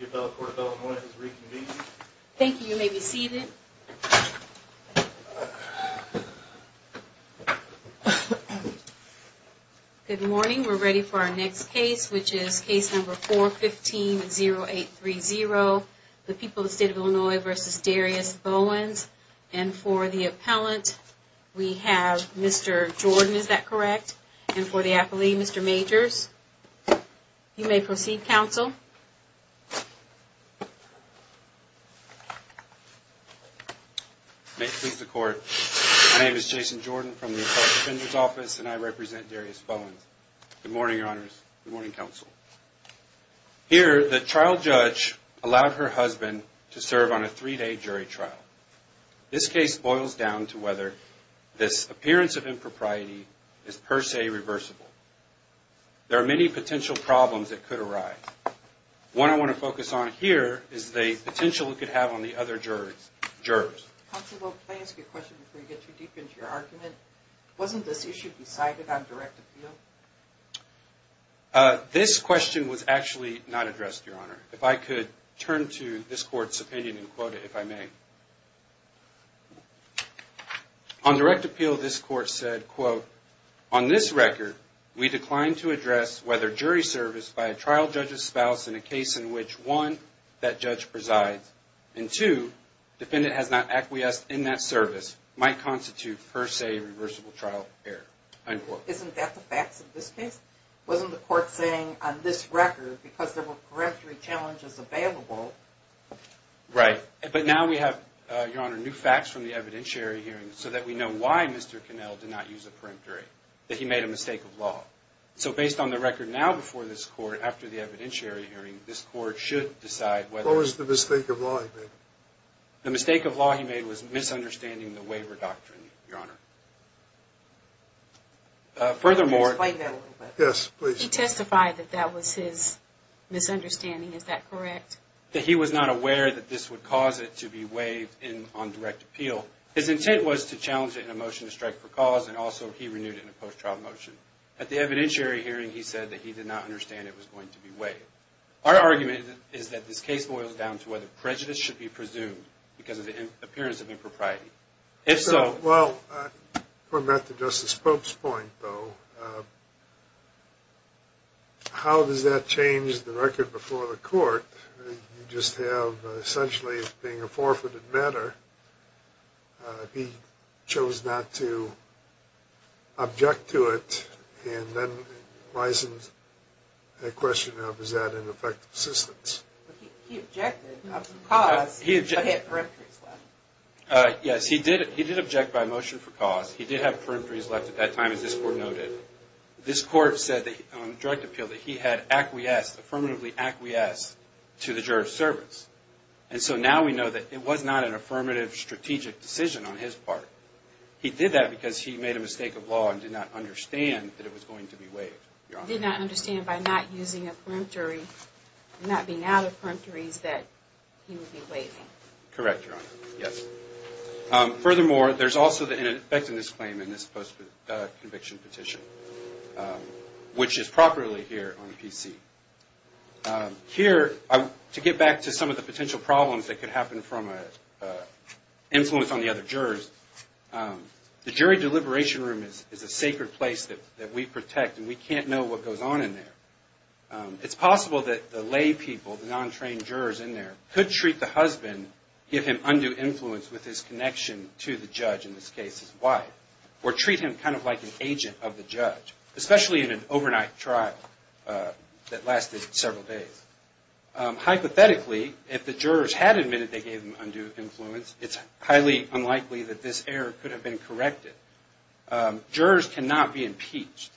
Good morning, we are ready for our next case, which is case number 415-0830, the people of the state of Illinois v. Darius Bowens. And for the appellant, we have Mr. Jordan, is that correct? And for the appellee, Mr. Majors? You may proceed, counsel. May it please the court, my name is Jason Jordan from the Appellant Defender's Office, and I represent Darius Bowens. Good morning, your honors. Good morning, counsel. Here, the trial judge allowed her husband to serve on a three-day jury trial. This case boils down to whether this appearance of impropriety is per se reversible. There are many potential problems that could arise. One I want to focus on here is the potential it could have on the other jurors. Counsel, will I ask you a question before you get too deep into your argument? Wasn't this issue decided on direct appeal? This question was actually not addressed, if I could turn to this court's opinion and quote it, if I may. On direct appeal, this court said, quote, on this record, we declined to address whether jury service by a trial judge's spouse in a case in which, one, that judge presides, and two, defendant has not acquiesced in that service, might constitute per se reversible trial error. Isn't that the facts of this case? Wasn't the court saying on this record, because there were correctory challenges available? Right. But now we have, Your Honor, new facts from the evidentiary hearing so that we know why Mr. Connell did not use a peremptory, that he made a mistake of law. So based on the record now before this court, after the evidentiary hearing, this court should decide whether... What was the mistake of law he made? The mistake of law he made was misunderstanding the waiver doctrine, Your Honor. Furthermore... Can you explain that a little bit? Yes, please. He testified that that was his misunderstanding. Is that correct? That he was not aware that this would cause it to be waived on direct appeal. His intent was to challenge it in a motion to strike for cause, and also he renewed it in a post-trial motion. At the evidentiary hearing, he said that he did not understand it was going to be waived. Our argument is that this case boils down to whether prejudice should be presumed because of the appearance of impropriety. If so... Well, going back to Justice Pope's point, though, how does that change the record before the court? You just have essentially it being a forfeited matter. He chose not to object to it, and then it rises the question of, is that an effective assistance? He objected by motion for cause. He did object by motion for cause. He did have peremptories left at that time, as this Court noted. This Court said that on direct appeal that he had acquiesced, affirmatively acquiesced, to the juror's service. And so now we know that it was not an affirmative strategic decision on his part. He did that because he made a mistake of law and did not understand that it was going to be waived, Your Honor. Did not understand by not using a not being out of peremptories that he would be waiving. Correct, Your Honor. Yes. Furthermore, there's also the ineffectiveness claim in this post-conviction petition, which is properly here on PC. Here, to get back to some of the potential problems that could happen from an influence on the other jurors, the jury deliberation room is a sacred place that we protect, and we can't know what goes on in there. It's possible that the laypeople, the non-trained jurors in there, could treat the husband, give him undue influence with his connection to the judge, in this case his wife, or treat him kind of like an agent of the judge, especially in an overnight trial that lasted several days. Hypothetically, if the jurors had admitted they gave him undue influence, it's highly unlikely that this error could have been corrected. Jurors cannot be impeached,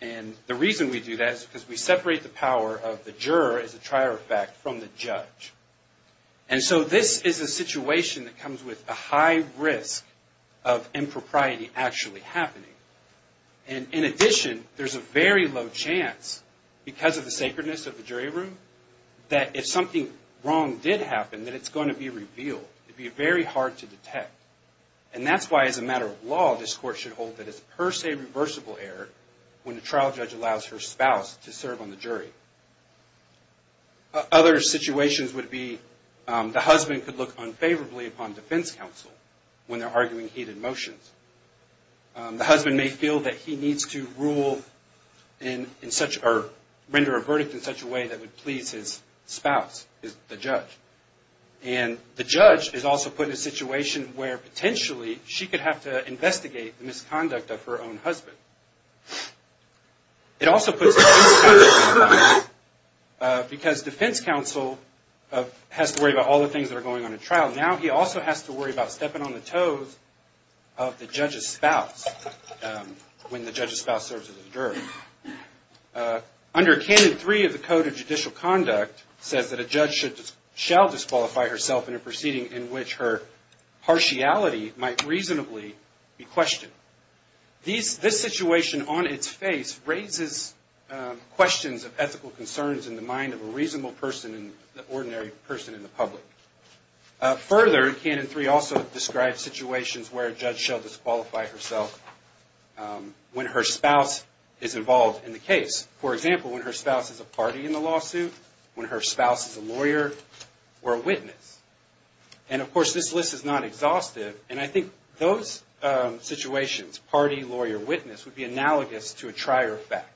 and the reason we do that is because we separate the power of the juror, as a trier of fact, from the judge. And so this is a situation that comes with a high risk of impropriety actually happening. And in addition, there's a very low chance, because of the sacredness of the jury room, that if something wrong did happen, that it's going to be revealed. It'd be very hard to detect. And that's why, as a matter of law, this court should hold that it's per se reversible error when the trial judge allows her spouse to serve on the jury. Other situations would be, the husband could look unfavorably upon defense counsel when they're arguing heated motions. The husband may feel that he needs to rule in such, or render a verdict in such a way that would please his spouse, the judge. And the judge is also put in a situation where, potentially, she could have to investigate the misconduct of her own husband. It also puts defense counsel at a disadvantage, because defense counsel has to worry about all the things that are going on in trial. Now he also has to worry about stepping on the toes of the judge's spouse when the judge's spouse serves as a juror. Under Canon 3 of the Code of Judicial Conduct, it says that a judge shall disqualify herself in a proceeding in which her partiality might reasonably be questioned. This situation on its face raises questions of ethical concerns in the mind of a reasonable person, an ordinary person in the public. Further, Canon 3 also describes situations where a judge shall disqualify herself when her spouse is involved in the case. For example, when her spouse is a party in the lawsuit, when her spouse is a lawyer or a witness. And of course, this list is not exhaustive, and I think those situations, party, lawyer, witness, would be analogous to a trier of fact.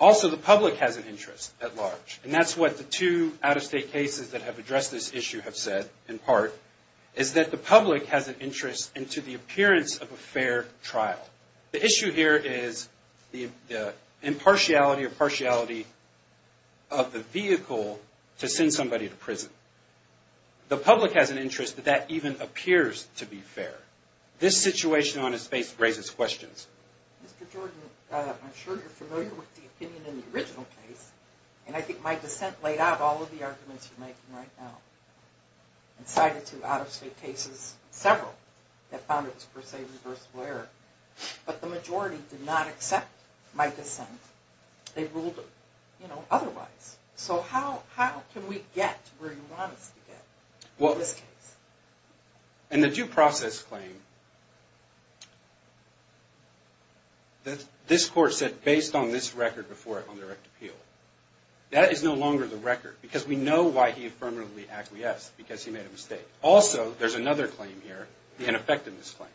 Also, the public has an interest at large, and that's what the two out-of-state cases that have addressed this issue have said, in part, is that the public has an interest into the appearance of a fair trial. The issue here is the impartiality or partiality of the vehicle to send somebody to prison. The public has an interest that that even appears to be fair. This situation on its face raises questions. Mr. Jordan, I'm sure you're familiar with the opinion in the original case, and I think my dissent laid out all of the arguments you're making right now. I've cited two out-of-state cases, several, that found it was per se reversible error, but the majority did not accept my dissent. They ruled, you know, otherwise. So how can we get where you want us to get in this case? Well, in the due process claim, this court said, based on this record before it on direct appeal, that is no longer the record, because we know why he affirmatively acquiesced, because he made a mistake. Also, there's another claim here, the ineffectiveness claim,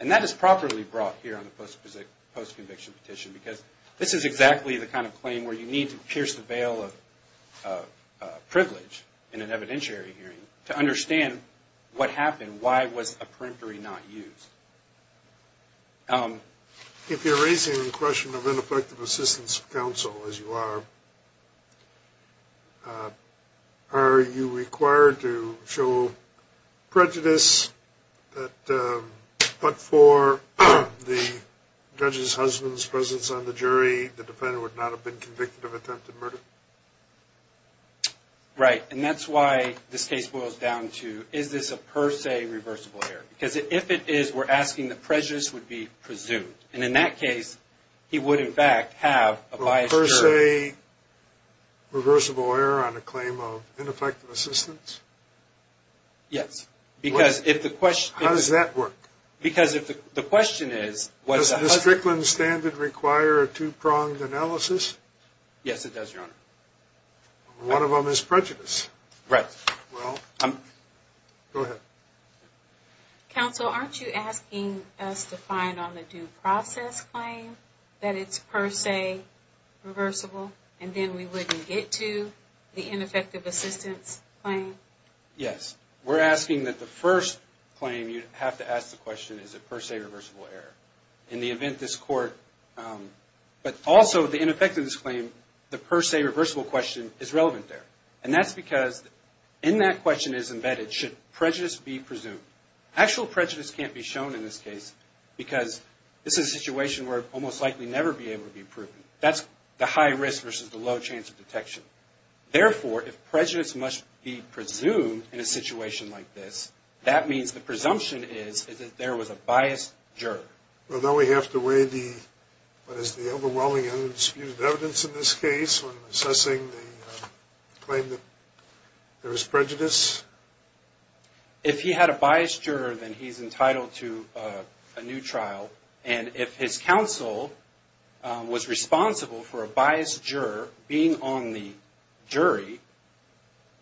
and that is properly brought here on the post-conviction petition, because this is exactly the kind of claim where you need to pierce the veil of privilege in an evidentiary hearing to understand what happened, why was a peremptory not used? If you're raising the question of ineffective assistance of counsel, as you are, are you required to show prejudice that, but for the judge's husband's presence on the jury, the defendant would not have been convicted of attempted murder? Right, and that's why this case boils down to, is this a per se reversible error? Because if it is, we're asking the prejudice would be presumed, and in that case, he would in fact have a biased jury. Per se reversible error on a claim of ineffective assistance? Yes, because if the question... How does that work? Because if the question is... Does the Strickland standard require a two-pronged analysis? Yes, it does, Your Honor. One of them is prejudice. Right. Well, go ahead. Counsel, aren't you asking us to find on the due process claim that it's per se reversible, and then we wouldn't get to the ineffective assistance claim? Yes. We're asking that the first claim you have to ask the question, is it per se reversible error? In the event this court... But also, the ineffectiveness claim, the per se reversible question is relevant there. And that's because in that question is embedded, should prejudice be presumed? Actual prejudice can't be shown in this case, because this is a situation where we'll most likely never be able to be proven. That's the high risk versus the low chance of detection. Therefore, if prejudice must be presumed in a situation like this, that means the presumption is that there was a biased juror. Well, then we have to weigh the... What is the overwhelming undisputed evidence in this case when assessing the claim that there was prejudice? If he had a biased juror, then he's entitled to a new trial. And if his counsel was responsible for a biased juror being on the jury,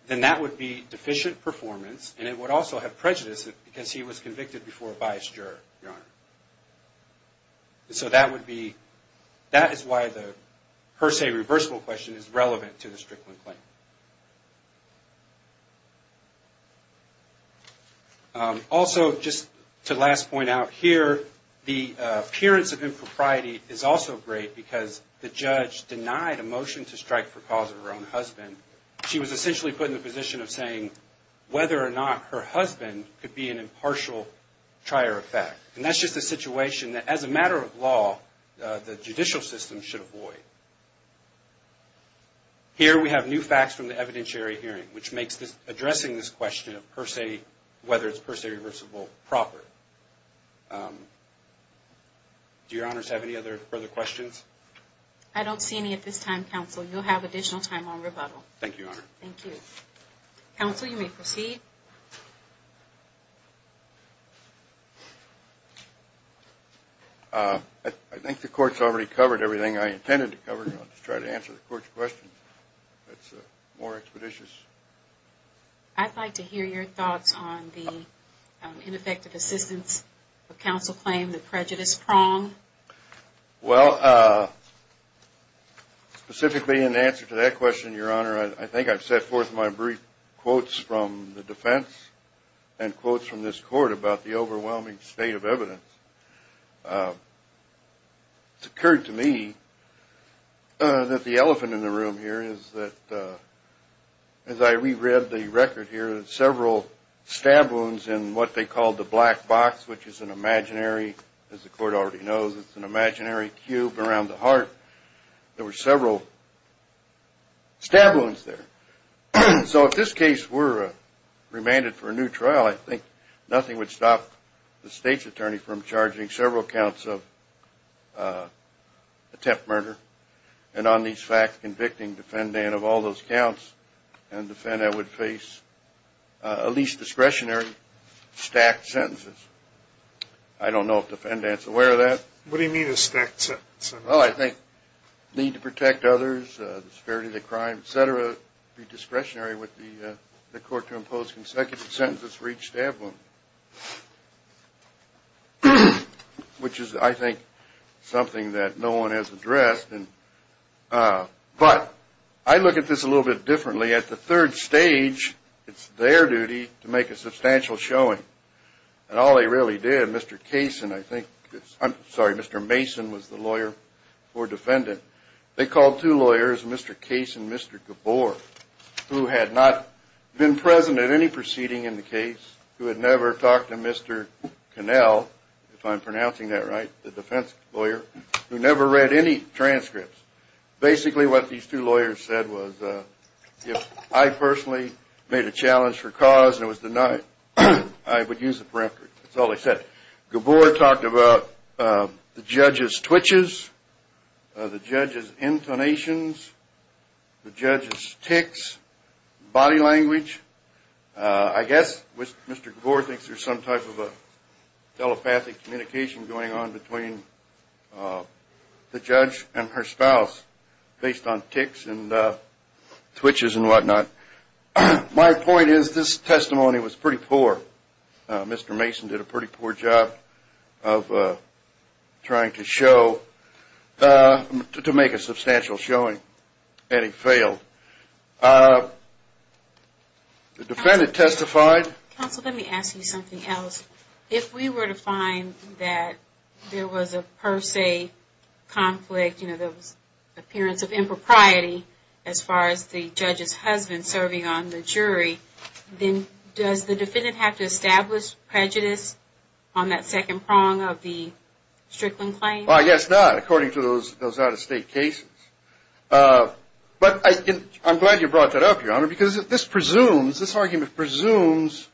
then that would be deficient performance, and it would also have prejudice because he was convicted before a biased juror, Your Honor. So that would be... That is why the per se reversible question is relevant to the Strickland claim. Also, just to last point out here, the appearance of impropriety is also great because the judge denied a motion to strike for cause of her own husband. She was essentially put in the position of saying whether or not her husband could be an impartial trier of fact. And that's just a void. Here we have new facts from the evidentiary hearing, which makes addressing this question of per se, whether it's per se reversible, proper. Do Your Honors have any other further questions? I don't see any at this time, counsel. You'll have additional time on rebuttal. Thank you, Your Honor. Thank you. Counsel, you may proceed. I think the court's already covered everything I intended to cover. I'll just try to answer the court's questions. That's more expeditious. I'd like to hear your thoughts on the ineffective assistance of counsel claim, the prejudice prong. Well, specifically in answer to that question, Your Honor, I think I've set forth my brief from the defense and quotes from this court about the overwhelming state of evidence. It's occurred to me that the elephant in the room here is that, as I reread the record here, several stab wounds in what they called the black box, which is an imaginary, as the court already knows, it's an imaginary cube around the heart. There were several stab wounds there. So if this case were remanded for a new trial, I think nothing would stop the state's attorney from charging several counts of attempt murder. And on these facts, convicting defendant of all those counts and defendant would face at least discretionary stacked sentences. I don't know if the defendant's aware of that. What do you mean a stacked sentence? Well, I think need to protect others, the severity of the crime, et cetera, be discretionary with the court to impose consecutive sentences for each stab wound. Which is, I think, something that no one has addressed. But I look at this a little bit differently. At the third stage, it's their duty to make a substantial showing. And all they really did, Mr. Mason was the lawyer for defendant. They called two lawyers, Mr. Case and Mr. Gabor, who had not been present at any proceeding in the case, who had never talked to Mr. Connell, if I'm pronouncing that right, the defense lawyer, who never read any transcripts. Basically, what these two lawyers said was, if I personally made a challenge for cause and it was denied, I would use the preface. That's all they said. Gabor talked about the judge's twitches, the judge's intonations, the judge's tics, body language. I guess Mr. Gabor thinks there's some type of telepathic communication going on between the judge and her spouse based on tics and whatnot. My point is, this testimony was pretty poor. Mr. Mason did a pretty poor job of trying to show, to make a substantial showing, and he failed. The defendant testified. Counsel, let me ask you something else. If we were to find that there was a per se conflict, you know, there was appearance of impropriety as far as the judge's husband serving on the jury, then does the defendant have to establish prejudice on that second prong of the Strickland claim? Well, yes, not according to those out-of-state cases. But I'm glad you brought that up, Your Honor, because this presumes, this argument presumes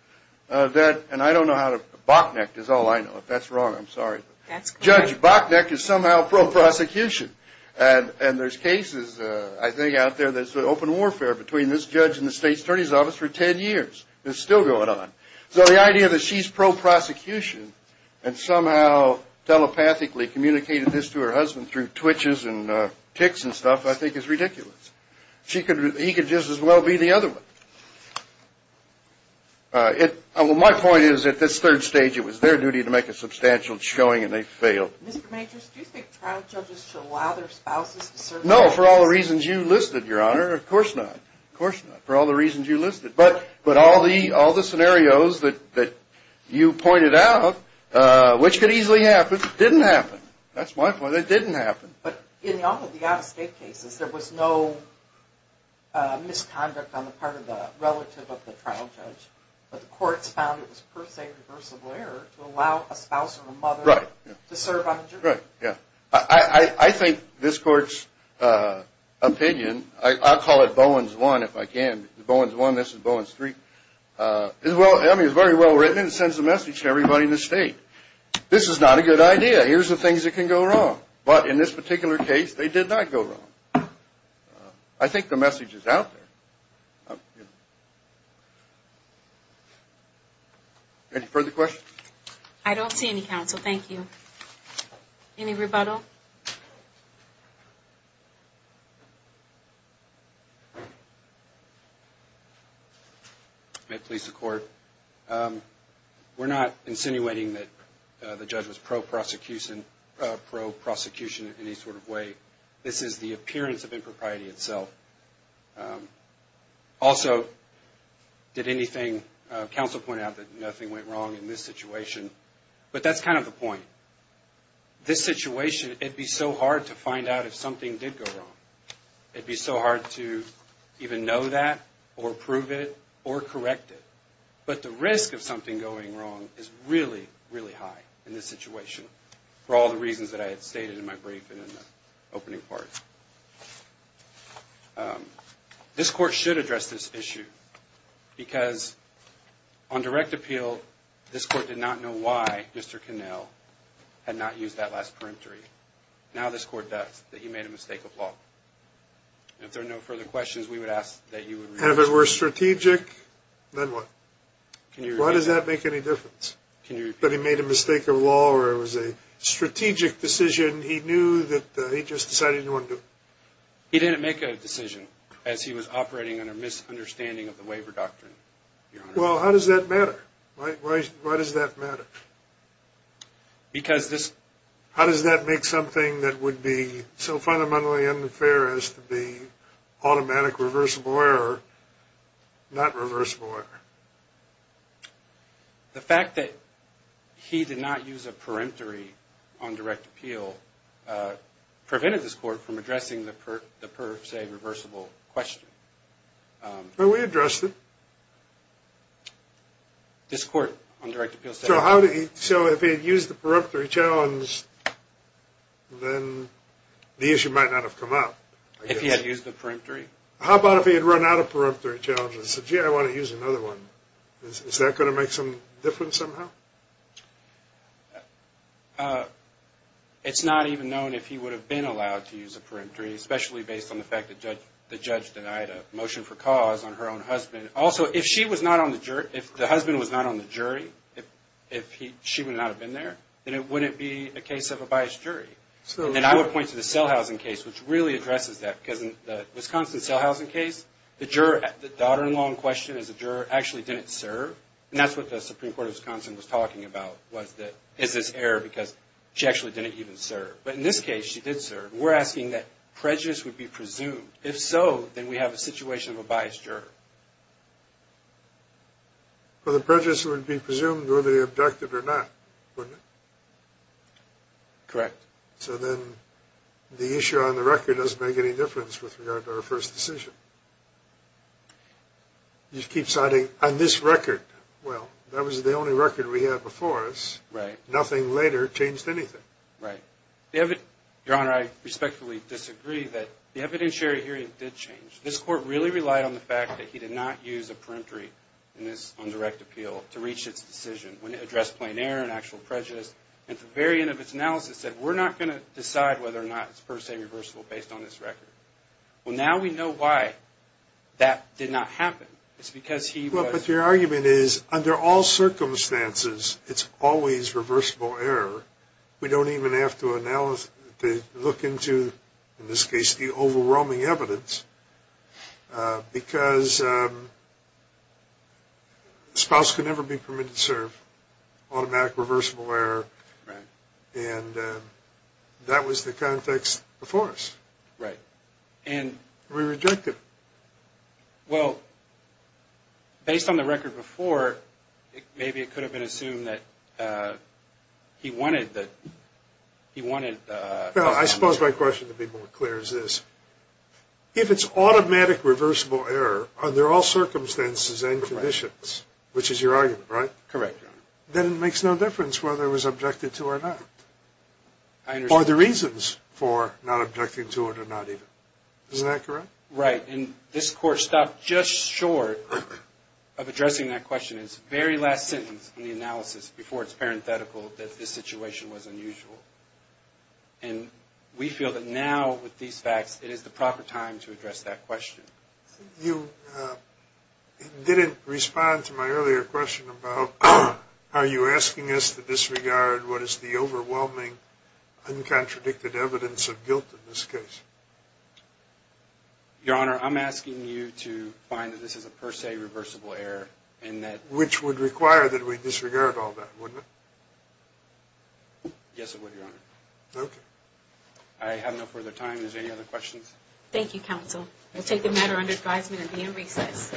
that, and I don't know how to, bockneck is all I know. If that's there's cases, I think, out there that's open warfare between this judge and the State's Attorney's Office for 10 years. It's still going on. So the idea that she's pro-prosecution and somehow telepathically communicated this to her husband through twitches and tics and stuff, I think is ridiculous. He could just as well be the other one. It, well, my point is, at this third stage, it was their duty to make a substantial showing, and they failed. Mr. Majors, do you think trial judges should allow their spouses to serve? No, for all the reasons you listed, Your Honor. Of course not. Of course not. For all the reasons you listed. But, but all the, all the scenarios that, that you pointed out, which could easily happen, didn't happen. That's my point. It didn't happen. But in all of the out-of-state cases, there was no misconduct on the part of the relative of the trial judge, but the courts found it was per se a reversible error to allow a spouse or a mother to serve on a jury. Right, yeah. I, I, I think this Court's opinion, I'll call it Bowen's 1 if I can, Bowen's 1, this is Bowen's 3, is well, I mean, is very well written and sends a message to everybody in the State. This is not a good idea. Here's the things that can go wrong. But in this particular case, they did not go wrong. I think the message is out there. Any further questions? I don't see any, counsel. Thank you. Any rebuttal? May it please the Court. We're not insinuating that the judge was pro-prosecution, pro-prosecution in any sort of way. This is the appearance of impropriety itself. Also, did anything, counsel pointed out that nothing went wrong in this situation. But that's kind of the point. This situation, it'd be so hard to find out if something did go wrong. It'd be so hard to even know that or prove it or correct it. But the risk of something going wrong is really, really high in this situation for all the reasons that I had stated in my brief and in the opening part. This Court should address this issue because on direct appeal, this Court did not know why Mr. Connell had not used that last peremptory. Now this Court does, that he made a mistake of law. And if there are no further questions, we would ask that you And if it were strategic, then what? Why does that make any difference? But he made a mistake of law where it was a strategic decision he knew that he just decided he didn't want to do. He didn't make a decision as he was operating under misunderstanding of the waiver doctrine, Your Honor. Well, how does that matter? Why does that matter? Because this... How does that make something that would be so not reversible? The fact that he did not use a peremptory on direct appeal prevented this Court from addressing the per se reversible question. Well, we addressed it. This Court on direct appeal said... So how did he... So if he had used the peremptory challenge, then the issue might not have come up. If he had used the peremptory? How about if he had run out of peremptory challenges and said, gee, I want to use another one. Is that going to make some difference somehow? It's not even known if he would have been allowed to use a peremptory, especially based on the fact that the judge denied a motion for cause on her own husband. Also, if she was not on the jury, if the husband was not on the jury, if she would not have been there, then it wouldn't be a case of a biased jury. And then I would point to the Sellhausen case, which really addresses that, because in the Wisconsin Sellhausen case, the daughter-in-law in question as a juror actually didn't serve. And that's what the Supreme Court of Wisconsin was talking about, was that is this error because she actually didn't even serve. But in this case, she did serve. We're asking that prejudice would be presumed. If so, then we have a situation of a biased juror. Well, the prejudice would be presumed whether they objected or not, wouldn't it? Correct. So then the issue on the record doesn't make any difference with regard to our first decision. You keep citing, on this record, well, that was the only record we had before us. Right. Nothing later changed anything. Right. Your Honor, I respectfully disagree that the evidentiary hearing did change. This court really relied on the fact that he did not use a peremptory in this undirect appeal to reach its decision when it addressed plain error and actual prejudice. At the very end of its analysis, it said, we're not going to decide whether or not it's per se reversible based on this record. Well, now we know why that did not happen. It's because he was... Well, but your argument is, under all circumstances, it's always reversible error. We don't even have to look into, in this case, the overwhelming evidence, because the spouse could never be permitted to serve. Automatic, reversible error. And that was the context before us. Right. And... We reject it. Well, based on the record before, maybe it could have been assumed that he wanted the... He wanted... I suppose my question to be more clear is this. If it's automatic, reversible error under all circumstances and conditions, which is your argument, right? Correct, Your Honor. Then it makes no difference whether it was objected to or not. Are there reasons for not objecting to it or not even? Is that correct? Right. And this court stopped just short of addressing that question. Its very last sentence in the analysis, before it's parenthetical, that this situation was unusual. And we feel that now, with these facts, it is the proper time to address that question. You didn't respond to my earlier question about, are you asking us to disregard what is the overwhelming, uncontradicted evidence of guilt in this case? Your Honor, I'm asking you to find that this is a per se reversible error and that... Which would require that we disregard all that, wouldn't it? Yes, it would, Your Honor. Okay. I have no further time. Is there any other questions? Thank you, counsel. We'll take the matter under advisement and be in recess.